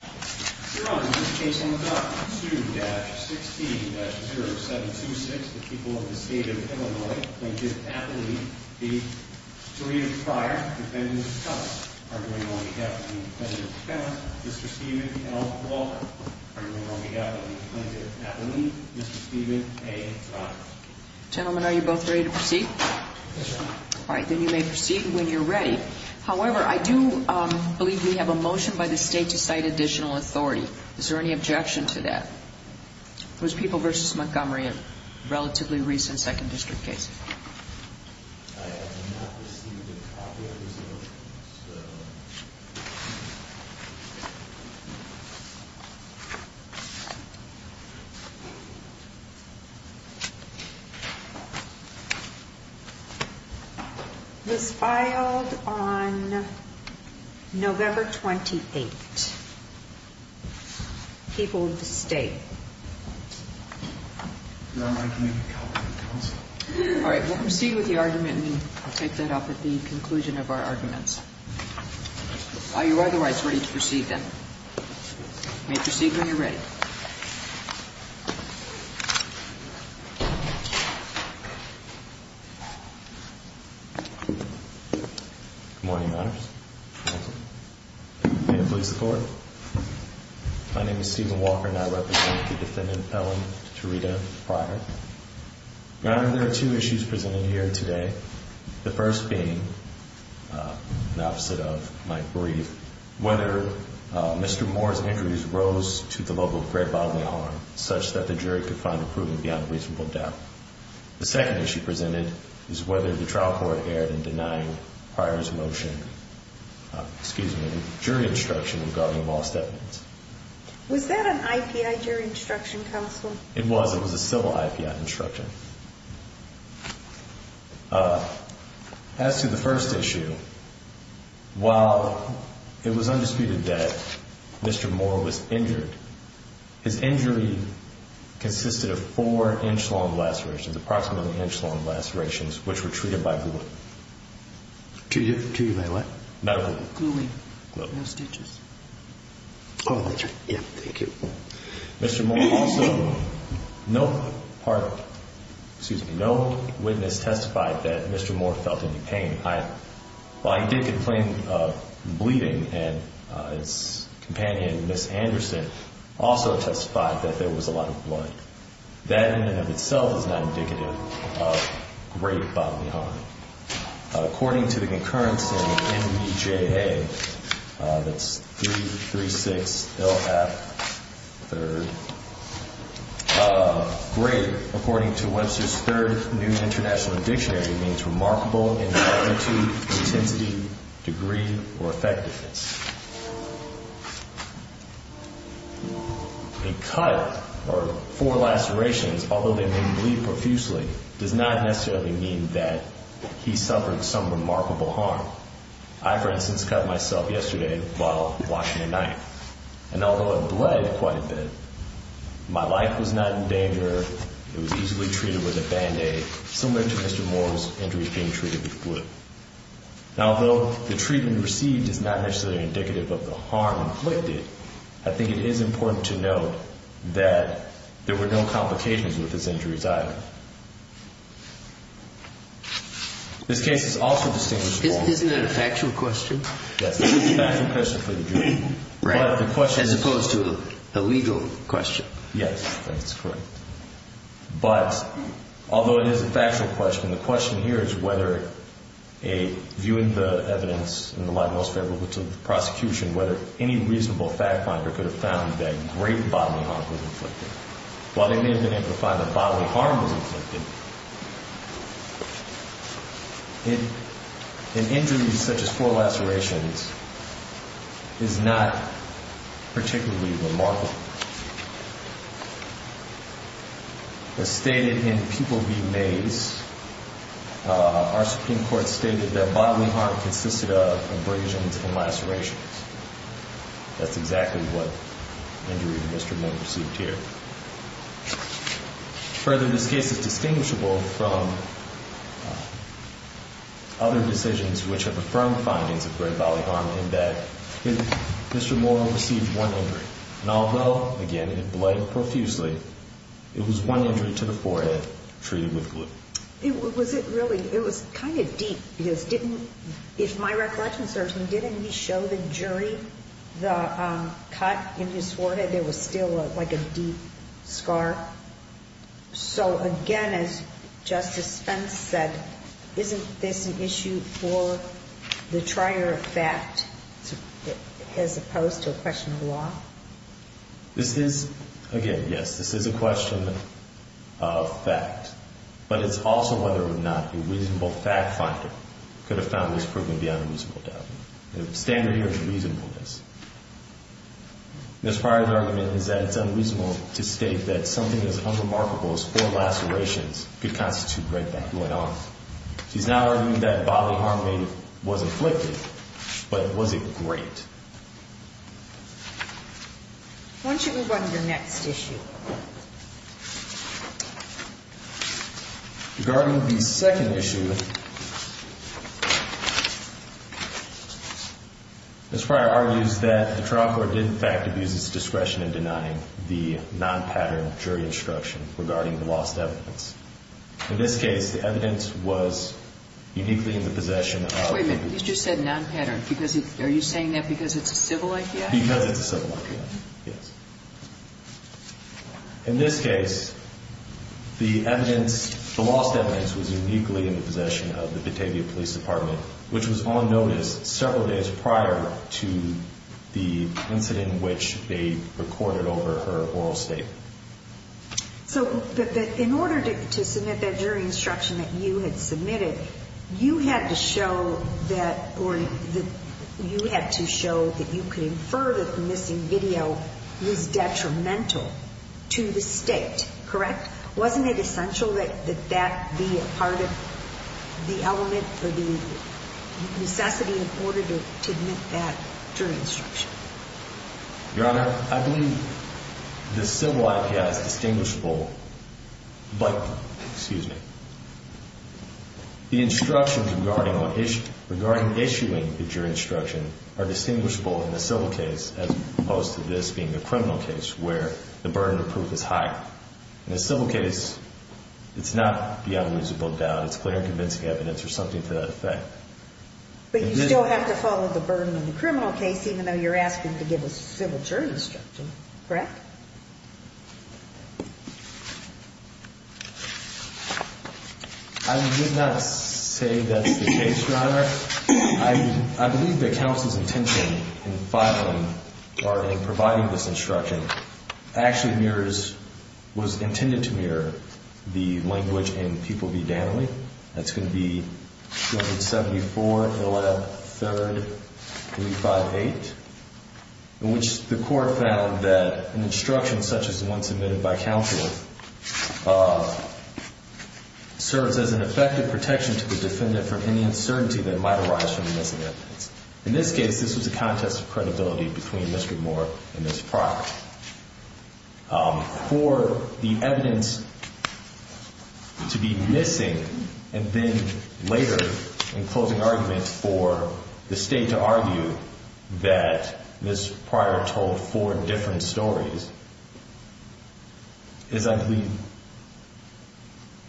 Mr. Steven L. Walker. Are you on behalf of the plaintiff at the lead, Mr. Steven A. Pryor? Gentlemen, are you both ready to proceed? Yes, Your Honor. Then you may proceed when you're ready. However, I do believe we have a motion by the State to cite additional authority. Is there any objection to that? It was People v. Montgomery, a relatively recent Second District case. I have not received a copy of this motion, so... It was filed on November 28. People v. State. Your Honor, I can make a copy of the counsel. All right. We'll proceed with the argument, and we'll take that up at the conclusion of our arguments. Are you otherwise ready to proceed, then? You may proceed when you're ready. Good morning, Your Honor. Good morning. May it please the Court? My name is Steven Walker, and I represent the defendant, Ellen Tarita Pryor. Your Honor, there are two issues presented here today. The first being, in opposite of my brief, whether Mr. Moore's injuries rose to the level of grave bodily harm, such that the jury could find improvement beyond reasonable doubt. The second issue presented is whether the trial court erred in denying Pryor's motion, excuse me, jury instruction regarding lost evidence. Was that an IPI jury instruction, counsel? It was. It was a civil IPI instruction. As to the first issue, while it was undisputed that Mr. Moore was injured, his injury consisted of four inch-long lacerations, approximately inch-long lacerations, which were treated by glue. Treated by what? Not glue. Gluing. No stitches. Oh, that's right. Yeah, thank you. Mr. Moore also, no part, excuse me, no witness testified that Mr. Moore felt any pain either. While he did complain of bleeding, and his companion, Ms. Anderson, also testified that there was a lot of blood. That in and of itself is not indicative of grave bodily harm. According to the concurrence in NEJA, that's 336LF3rd, grave, according to Webster's Third New International Dictionary, means remarkable in magnitude, intensity, degree, or effectiveness. A cut, or four lacerations, although they may bleed profusely, does not necessarily mean that he suffered some remarkable harm. I, for instance, cut myself yesterday while washing a knife, and although it bled quite a bit, my life was not in danger. It was easily treated with a Band-Aid, similar to Mr. Moore's injury being treated with glue. Now, although the treatment received is not necessarily indicative of the harm inflicted, I think it is important to note that there were no complications with his injuries either. This case is also distinguished from... Isn't that a factual question? Yes, it is a factual question for the jury. Right, as opposed to a legal question. Yes, that's correct. But, although it is a factual question, the question here is whether, viewing the evidence in the light most favorable to the prosecution, whether any reasonable fact finder could have found that great bodily harm was inflicted. While they may have been able to find that bodily harm was inflicted, an injury such as four lacerations is not particularly remarkable. As stated in Pupil v. Mays, our Supreme Court stated that bodily harm consisted of abrasions and lacerations. That's exactly what injury Mr. Moore received here. Further, this case is distinguishable from other decisions which have affirmed findings of great bodily harm in that Mr. Moore received one injury. And although, again, it bled profusely, it was one injury to the forehead treated with glue. Was it really... It was kind of deep because didn't... If my recollection serves me, didn't he show the jury the cut in his forehead? There was still like a deep scar. So, again, as Justice Spence said, isn't this an issue for the trier of fact as opposed to a question of law? This is, again, yes, this is a question of fact. But it's also whether or not a reasonable fact finder could have found this proven to be unreasonable. The standard here is reasonableness. Ms. Pryor's argument is that it's unreasonable to state that something as unremarkable as four lacerations could constitute great bodily harm. She's not arguing that bodily harm was inflicted, but was it great? Why don't you move on to the next issue? Regarding the second issue, Ms. Pryor argues that the trial court did in fact abuse its discretion in denying the non-pattern jury instruction regarding the lost evidence. In this case, the evidence was uniquely in the possession of... Wait a minute. You just said non-pattern. Are you saying that because it's a civil IPI? Because it's a civil IPI, yes. In this case, the evidence, the lost evidence, was uniquely in the possession of the Batavia Police Department, which was on notice several days prior to the incident which they recorded over her oral statement. So in order to submit that jury instruction that you had submitted, you had to show that, or you had to show that you could infer that the missing video was detrimental to the state, correct? Wasn't it essential that that be a part of the element for the necessity in order to admit that jury instruction? Your Honor, I believe the civil IPI is distinguishable, but... Excuse me. The instructions regarding issuing the jury instruction are distinguishable in a civil case as opposed to this being a criminal case where the burden of proof is higher. In a civil case, it's not the evidence is booked out. It's clear and convincing evidence or something to that effect. But you still have to follow the burden in the criminal case even though you're asking to give us a civil jury instruction, correct? I would not say that's the case, Your Honor. I believe that counsel's intention in filing or in providing this instruction actually was intended to mirror the language in Pupil v. Danley. That's going to be 274-113-358, in which the court found that an instruction such as the one submitted by counsel serves as an effective protection to the defendant from any uncertainty that might arise from the missing evidence. In this case, this was a contest of credibility between Mr. Moore and Ms. Pryor. For the evidence to be missing and then later in closing argument for the state to argue that Ms. Pryor told four different stories is, I believe,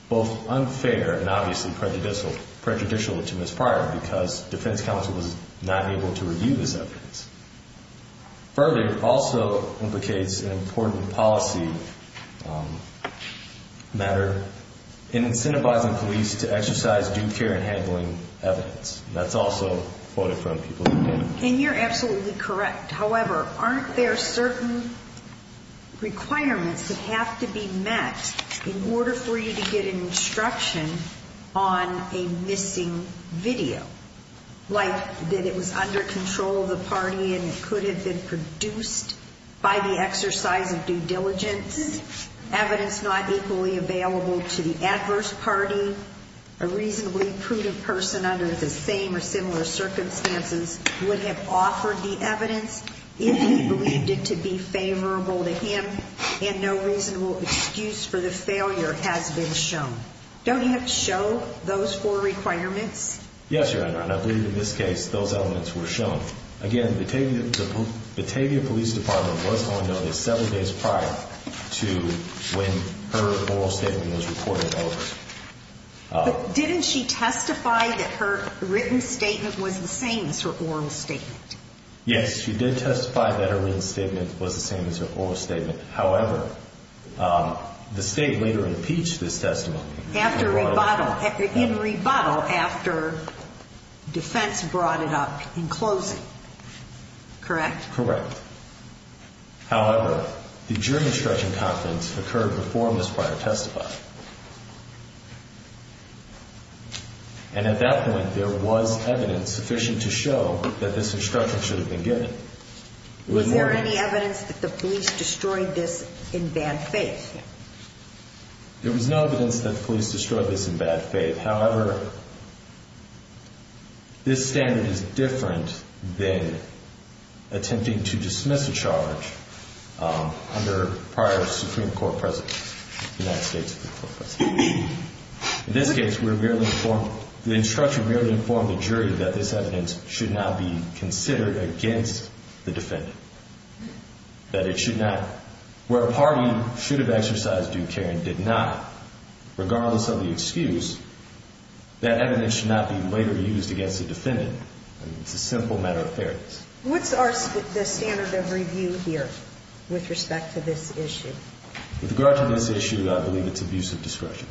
both unfair and obviously prejudicial to Ms. Pryor because defense counsel was not able to review this evidence. Further, it also implicates an important policy matter in incentivizing police to exercise due care in handling evidence. That's also quoted from Pupil v. Danley. And you're absolutely correct. However, aren't there certain requirements that have to be met in order for you to get an instruction on a missing video, like that it was under control of the party and it could have been produced by the exercise of due diligence, evidence not equally available to the adverse party, a reasonably prudent person under the same or similar circumstances would have offered the evidence if he believed it to be favorable to him and no reasonable excuse for the failure has been shown. Don't you have to show those four requirements? Yes, Your Honor, and I believe in this case those elements were shown. Again, the Batavia Police Department was on notice seven days prior to when her oral statement was reported over. But didn't she testify that her written statement was the same as her oral statement? Yes, she did testify that her written statement was the same as her oral statement. However, the State later impeached this testimony. In rebuttal after defense brought it up in closing, correct? Correct. However, the jury instruction conference occurred before Ms. Pryor testified. And at that point, there was evidence sufficient to show that this instruction should have been given. Was there any evidence that the police destroyed this in bad faith? There was no evidence that the police destroyed this in bad faith. However, this standard is different than attempting to dismiss a charge under prior Supreme Court precedents, United States Supreme Court precedents. In this case, the instruction merely informed the jury that this evidence should not be considered against the defendant, that it should not, where a party should have exercised due care and did not, regardless of the excuse, that evidence should not be later used against the defendant. It's a simple matter of fairness. What's the standard of review here with respect to this issue? With regard to this issue, I believe it's abuse of discretion.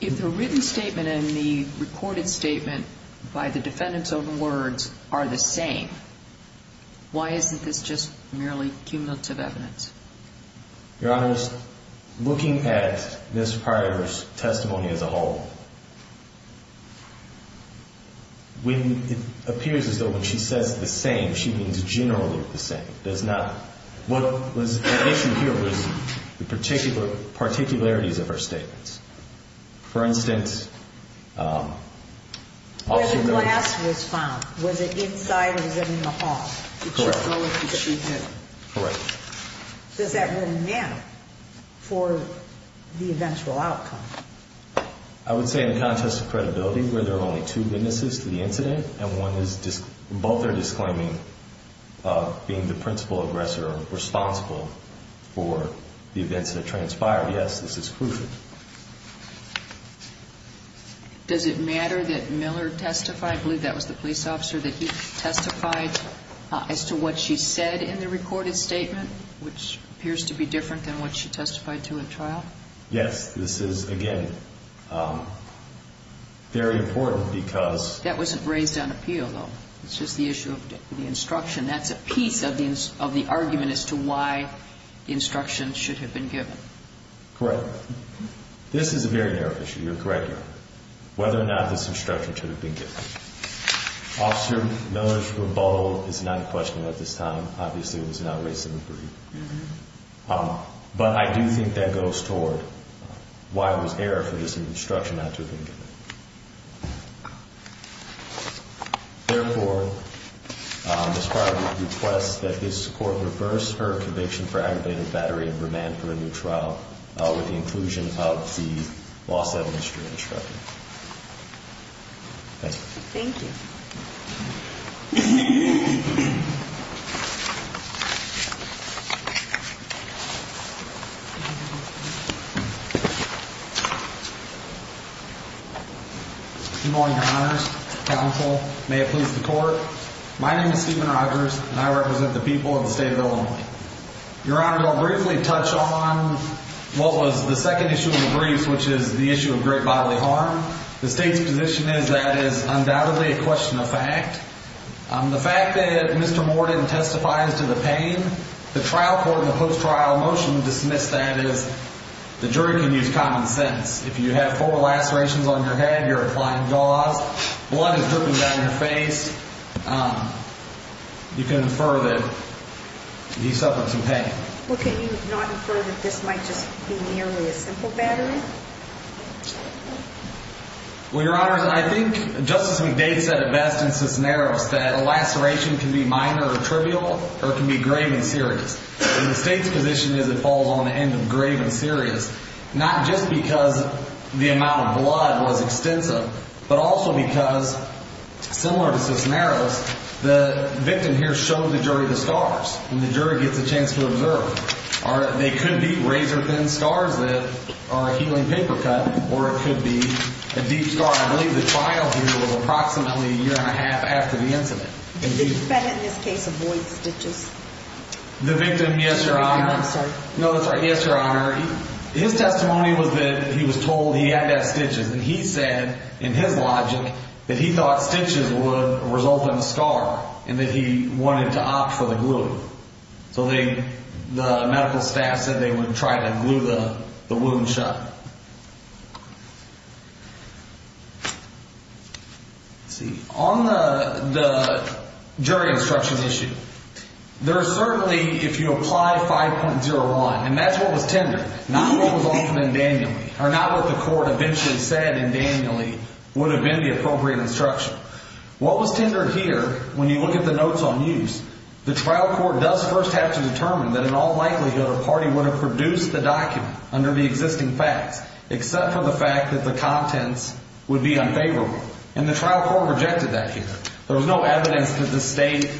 If the written statement and the recorded statement by the defendant's own words are the same, why isn't this just merely cumulative evidence? Your Honor, looking at Ms. Pryor's testimony as a whole, it appears as though when she says the same, she means generally the same. It does not. What was at issue here was the particularities of her statements. For instance, also known as... Whether glass was found. Was it inside or was it in the hall? Correct. Correct. Does that really matter for the eventual outcome? I would say in the context of credibility where there are only two witnesses to the incident and both are disclaiming being the principal aggressor responsible for the events that transpired, yes, this is proof. Does it matter that Miller testified? I believe that was the police officer that he testified. As to what she said in the recorded statement, which appears to be different than what she testified to in trial? Yes. This is, again, very important because... That wasn't raised on appeal, though. It's just the issue of the instruction. That's a piece of the argument as to why the instruction should have been given. Correct. This is a very narrow issue. You're correct, Your Honor. Whether or not this instruction should have been given. Officer Miller's rebuttal is not in question at this time. Obviously, it was not raised in the brief. But I do think that goes toward why there was error for this instruction not to have been given. Therefore, as part of the request, that this court reverse her conviction for aggravated battery and remand for a new trial with the inclusion of the lost evidence during the trial. Thank you. Thank you. Good morning, Your Honors. Counsel. May it please the Court. My name is Stephen Rogers, and I represent the people of the state of Illinois. Your Honor, I'll briefly touch on what was the second issue of the brief, which is the issue of great bodily harm. The state's position is that is undoubtedly a question of fact. The fact that Mr. Moore didn't testify as to the pain, the trial court in the post-trial motion dismissed that as the jury can use common sense. If you have four lacerations on your head, you're applying gauze, blood is dripping down your face, you can infer that he suffered some pain. Well, can you not infer that this might just be merely a simple battery? Well, Your Honors, I think Justice McDade said it best in Cisneros that a laceration can be minor or trivial or it can be grave and serious. The state's position is it falls on the end of grave and serious, not just because the amount of blood was extensive, but also because, similar to Cisneros, the victim here showed the jury the scars, and the jury gets a chance to observe. They could be razor-thin scars that are a healing paper cut, or it could be a deep scar. I believe the trial here was approximately a year and a half after the incident. Did the defendant in this case avoid stitches? The victim, yes, Your Honor. I'm sorry. No, that's right. Yes, Your Honor. His testimony was that he was told he had to have stitches, and he said, in his logic, that he thought stitches would result in a scar and that he wanted to opt for the glue. So the medical staff said they would try to glue the wound shut. Let's see. On the jury instruction issue, there is certainly, if you apply 5.01, and that's what was tendered, not what was offered in Danieli, or not what the court eventually said in Danieli would have been the appropriate instruction. What was tendered here, when you look at the notes on use, the trial court does first have to determine that in all likelihood a party would have produced the document under the existing facts, except for the fact that the contents would be unfavorable, and the trial court rejected that here. There was no evidence that the state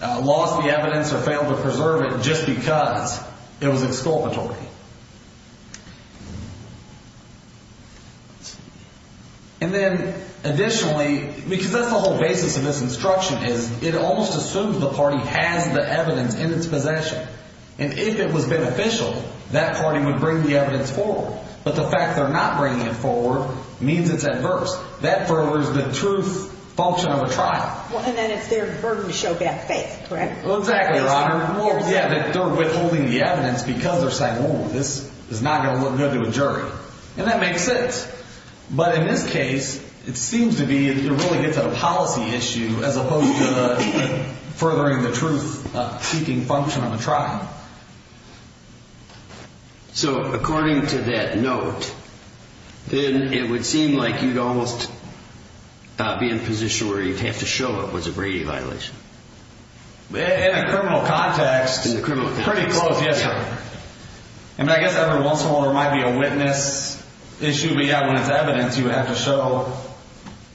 lost the evidence or failed to preserve it just because it was exculpatory. And then, additionally, because that's the whole basis of this instruction, is it almost assumes the party has the evidence in its possession, and if it was beneficial, that party would bring the evidence forward. But the fact they're not bringing it forward means it's adverse. That furthers the truth function of the trial. And then it's their burden to show bad faith, correct? Exactly, Your Honor. They're withholding the evidence because they're saying, Oh, this is not going to look good to a jury. And that makes sense. But in this case, it seems to be it really gets at a policy issue as opposed to furthering the truth-seeking function of the trial. So, according to that note, then it would seem like you'd almost be in a position where you'd have to show it was a Brady violation. In a criminal context, pretty close, yes, Your Honor. I mean, I guess every once in a while there might be a witness issue, but, yeah, when it's evidence, you have to show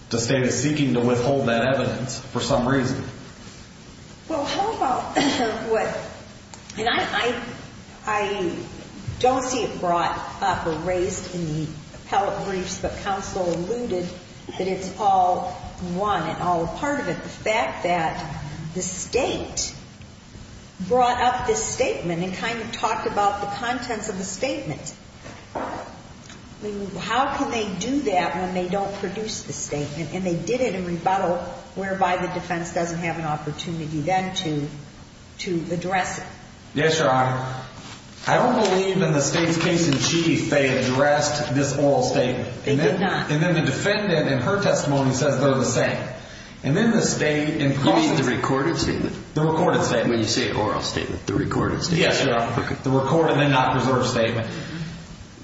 the State is seeking to withhold that evidence for some reason. Well, how about what... And I don't see it brought up or raised in the appellate briefs, but counsel alluded that it's all one and all a part of it, the fact that the State brought up this statement and kind of talked about the contents of the statement. I mean, how can they do that when they don't produce the statement and they did it in rebuttal, whereby the defense doesn't have an opportunity then to address it? Yes, Your Honor. I don't believe in the State's case in chief they addressed this oral statement. They did not. And then the defendant in her testimony says they're the same. And then the State... You mean the recorded statement? The recorded statement. Yeah, when you say oral statement, the recorded statement. Yes, Your Honor. The recorded and not preserved statement.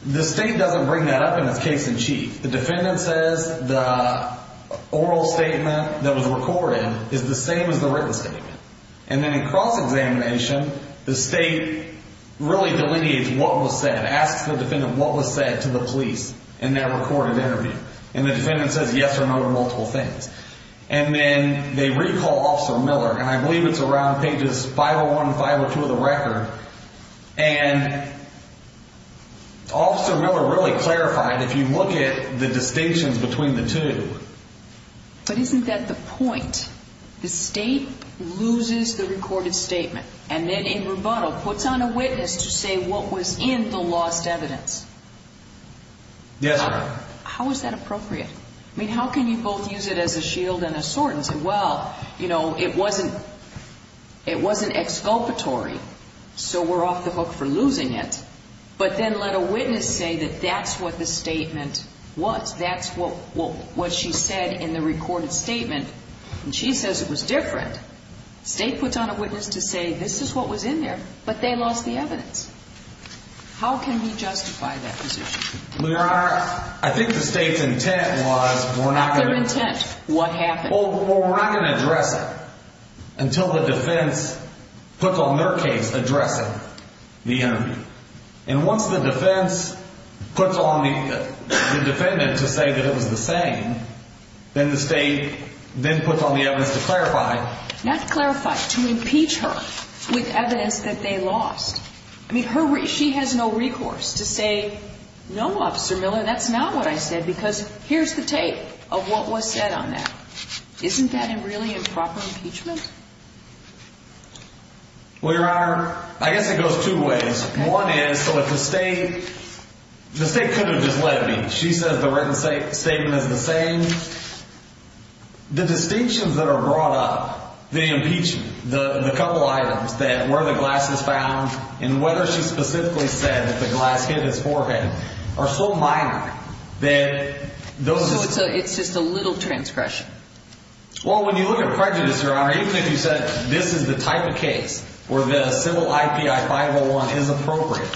The State doesn't bring that up in its case in chief. The defendant says the oral statement that was recorded is the same as the written statement. And then in cross-examination, the State really delineates what was said, asks the defendant what was said to the police in that recorded interview. And the defendant says yes or no to multiple things. And then they recall Officer Miller, and I believe it's around pages 501 and 502 of the record. And Officer Miller really clarified, if you look at the distinctions between the two. But isn't that the point? The State loses the recorded statement and then in rebuttal puts on a witness to say what was in the lost evidence. Yes, Your Honor. How is that appropriate? I mean, how can you both use it as a shield and a sword and say, well, you know, it wasn't exculpatory, so we're off the hook for losing it. But then let a witness say that that's what the statement was. That's what she said in the recorded statement. And she says it was different. The State puts on a witness to say this is what was in there, but they lost the evidence. How can we justify that position? Well, Your Honor, I think the State's intent was we're not going to address it until the defense puts on their case addressing the interview. And once the defense puts on the defendant to say that it was the same, then the State then puts on the evidence to clarify. Not clarify, to impeach her with evidence that they lost. I mean, she has no recourse to say, no, Officer Miller, that's not what I said, because here's the tape of what was said on that. Isn't that really improper impeachment? Well, Your Honor, I guess it goes two ways. One is, so if the State could have just let me. She says the written statement is the same. The distinctions that are brought up, the impeachment, the couple items that where the glass is found and whether she specifically said that the glass hit his forehead are so minor that those. So it's just a little transgression. Well, when you look at prejudice, Your Honor, even if you said this is the type of case where the civil IPI 501 is appropriate,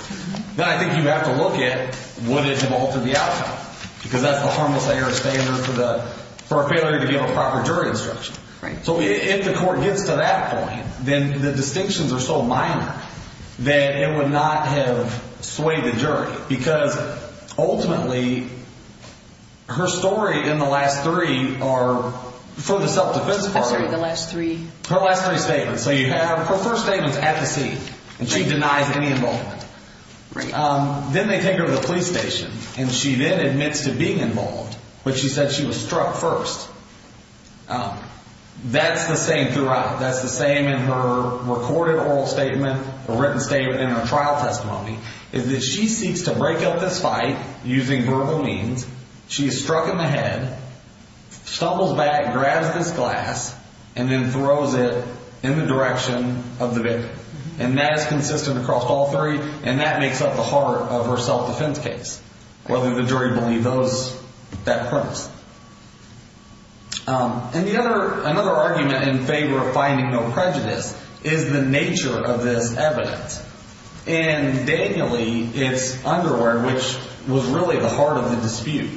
then I think you have to look at what is involved in the outcome, because that's the harmless error standard for a failure to give a proper jury instruction. Right. So if the court gets to that point, then the distinctions are so minor that it would not have swayed the jury, because ultimately her story in the last three are for the self-defense part of it. I'm sorry, the last three? Her last three statements. So you have her first statement's at the seat, and she denies any involvement. Right. Then they take her to the police station, and she then admits to being involved, but she said she was struck first. That's the same throughout. That's the same in her recorded oral statement, written statement, and her trial testimony, is that she seeks to break up this fight using verbal means. She is struck in the head, stumbles back, grabs this glass, and then throws it in the direction of the victim. And that is consistent across all three, and that makes up the heart of her self-defense case, whether the jury believed that premise. And another argument in favor of finding no prejudice is the nature of this evidence. In Danieli, it's underwear, which was really the heart of the dispute.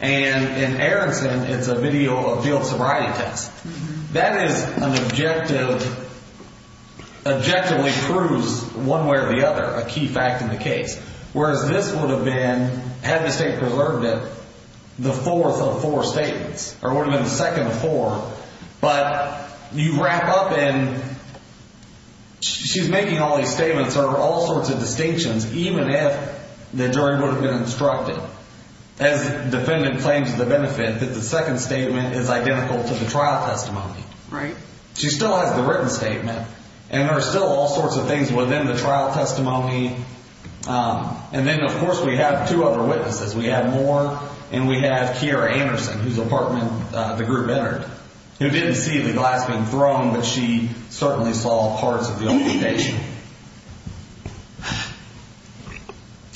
And in Aronson, it's a field sobriety test. That is an objective, objectively proves one way or the other a key fact in the case, whereas this would have been, had the state preserved it, the fourth of four statements, or it would have been the second of four. But you wrap up, and she's making all these statements, or all sorts of distinctions, even if the jury would have been instructed, as the defendant claims the benefit, that the second statement is identical to the trial testimony. Right. She still has the written statement, and there are still all sorts of things within the trial testimony. And then, of course, we have two other witnesses. We have Moore, and we have Kiera Anderson, who's a part of the group that entered, who didn't see the glass being thrown, but she certainly saw parts of the application.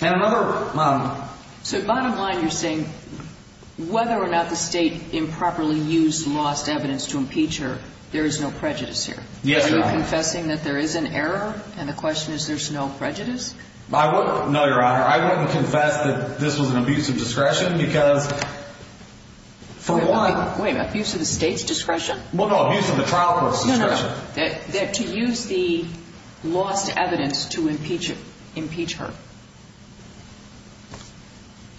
And another— So bottom line, you're saying whether or not the state improperly used lost evidence to impeach her, there is no prejudice here? Yes, Your Honor. Are you confessing that there is an error, and the question is there's no prejudice? No, Your Honor. I wouldn't confess that this was an abuse of discretion because, for one— Wait, wait, wait. Abuse of the state's discretion? Well, no, abuse of the trial court's discretion. No, no, no. To use the lost evidence to impeach her.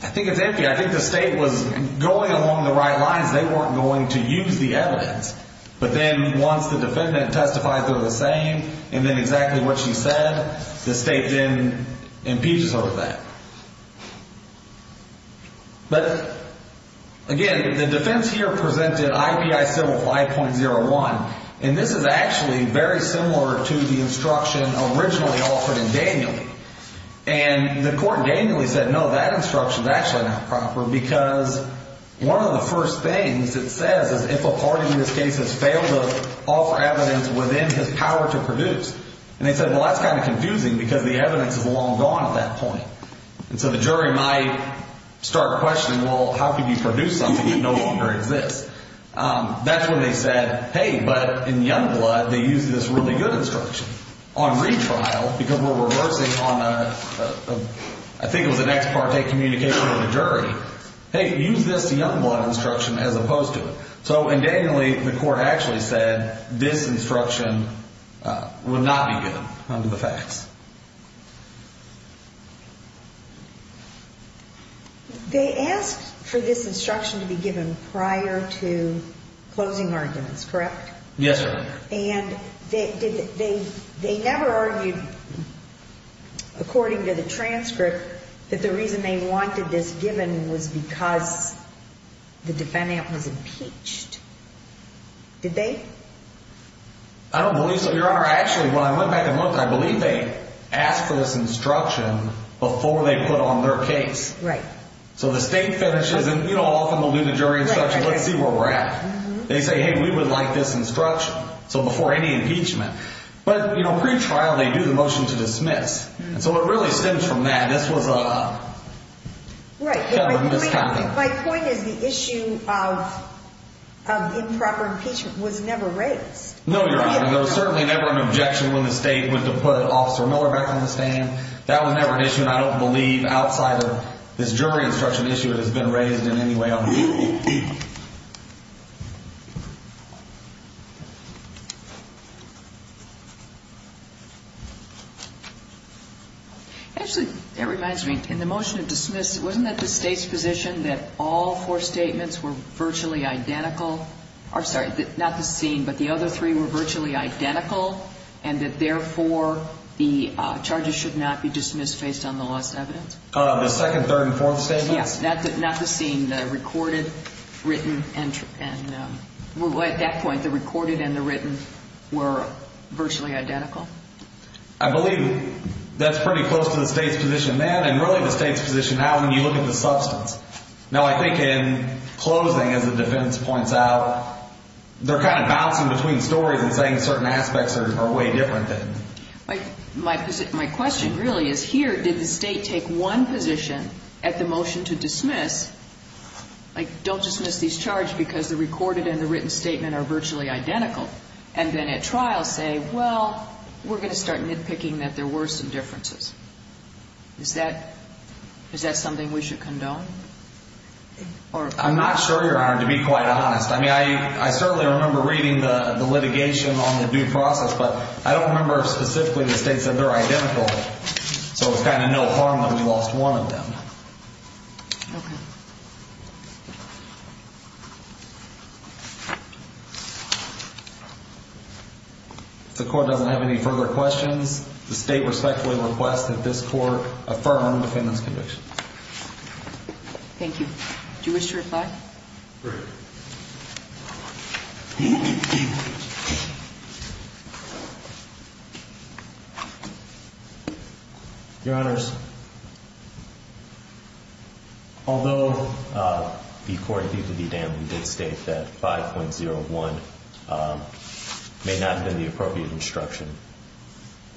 I think it's empty. I think the state was going along the right lines. They weren't going to use the evidence, but then once the defendant testifies they're the same, and then exactly what she said, the state then impeaches her of that. But, again, the defense here presented IBI civil 5.01, and this is actually very similar to the instruction originally offered in Danieley. And the court in Danieley said, no, that instruction's actually not proper because one of the first things it says is if a party in this case has failed to offer evidence within his power to produce. And they said, well, that's kind of confusing because the evidence is long gone at that point. And so the jury might start questioning, well, how can you produce something that no longer exists? That's when they said, hey, but in Youngblood they used this really good instruction. On retrial, because we're reversing on a, I think it was an ex parte communication with a jury, hey, use this Youngblood instruction as opposed to it. So in Danieley the court actually said this instruction would not be given under the facts. They asked for this instruction to be given prior to closing arguments, correct? Yes, ma'am. And they never argued, according to the transcript, that the reason they wanted this given was because the defendant was impeached. Did they? I don't believe so, Your Honor. Actually, when I went back and looked, I believe they asked for this instruction before they put on their case. Right. So the state finishes and, you know, often we'll do the jury instruction, let's see where we're at. They say, hey, we would like this instruction. So before any impeachment. But, you know, pretrial they do the motion to dismiss. So it really stems from that. This was a misconduct. My point is the issue of improper impeachment was never raised. No, Your Honor. There was certainly never an objection when the state went to put Officer Miller back on the stand. That was never an issue. And I don't believe outside of this jury instruction issue it has been raised in any way. Actually, that reminds me. In the motion to dismiss, wasn't it the state's position that all four statements were virtually identical? I'm sorry, not the scene, but the other three were virtually identical, and that, therefore, the charges should not be dismissed based on the last evidence? The second, third, and fourth statements? Yes. Not the scene. The recorded, written, and at that point, the recorded and the written were virtually identical. I believe that's pretty close to the state's position then and really the state's position now when you look at the substance. No, I think in closing, as the defendant points out, they're kind of bouncing between stories and saying certain aspects are way different then. My question really is here did the state take one position at the motion to dismiss, like don't dismiss these charges because the recorded and the written statement are virtually identical, and then at trial say, well, we're going to start nitpicking that there were some differences. Is that something we should condone? I'm not sure, Your Honor, to be quite honest. I mean, I certainly remember reading the litigation on the due process, but I don't remember if specifically the state said they're identical, so it's kind of no harm that we lost one of them. Okay. If the court doesn't have any further questions, the state respectfully requests that this court affirm the defendant's conviction. Thank you. Do you wish to reply? Great. Your Honors, although the court, due to the dam, did state that 5.01 may not have been the appropriate instruction,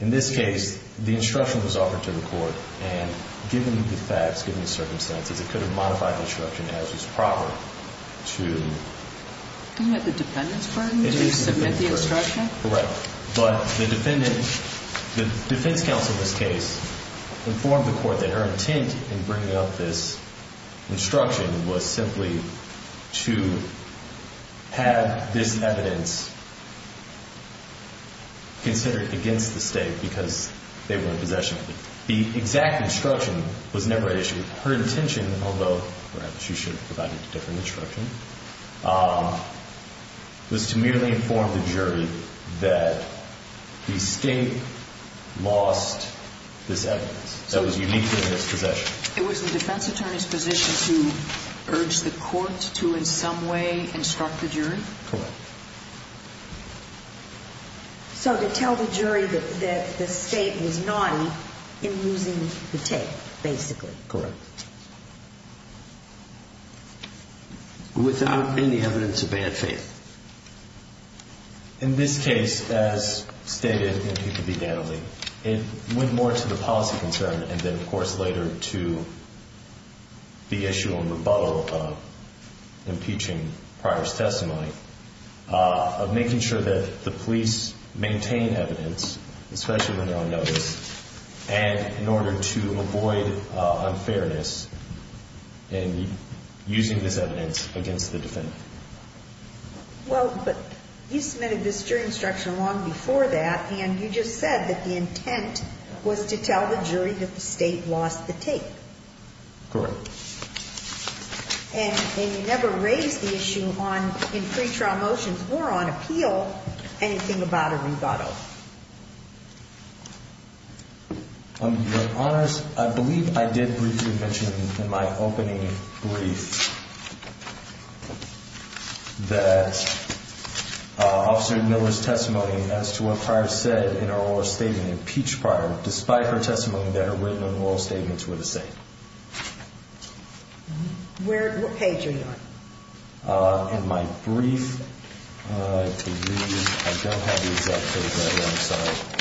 in this case, the instruction was offered to the court, and given the facts, given the circumstances, it could have modified the instruction as is proper to Isn't that the defendant's burden to submit the instruction? It is the defendant's burden, correct. But the defendant, the defense counsel in this case, informed the court that her intent in bringing up this instruction was simply to have this evidence considered against the state because they were in possession of it. The exact instruction was never issued. Her intention, although perhaps she should have provided a different instruction, was to merely inform the jury that the state lost this evidence that was uniquely in its possession. It was the defense attorney's position to urge the court to in some way instruct the jury? Correct. So to tell the jury that the state was naughty in losing the tape, basically. Correct. Without any evidence of bad faith. In this case, as stated, it went more to the policy concern and then, of course, later to the issue and rebuttal of impeaching prior testimony, of making sure that the police maintain evidence, especially when they're on notice, and in order to avoid unfairness in using this evidence against the defendant. Well, but you submitted this jury instruction long before that, and you just said that the intent was to tell the jury that the state lost the tape. Correct. And you never raised the issue in pre-trial motions or on appeal, anything about a rebuttal. Your Honors, I believe I did briefly mention in my opening brief that Officer Miller's testimony as to what prior said in her oral statement impeached prior, despite her testimony that her written and oral statements were the same. What page are you on? In my brief, I believe, I don't have the exact page right now, I'm sorry.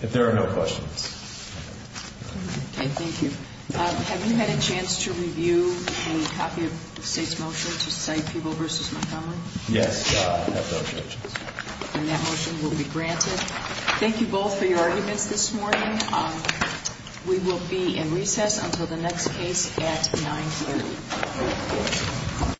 If there are no questions. Okay, thank you. Have you had a chance to review a copy of the state's motion to cite Peeble v. Montgomery? Yes, I have those motions. And that motion will be granted. Thank you both for your arguments this morning. We will be in recess until the next case at 9.30.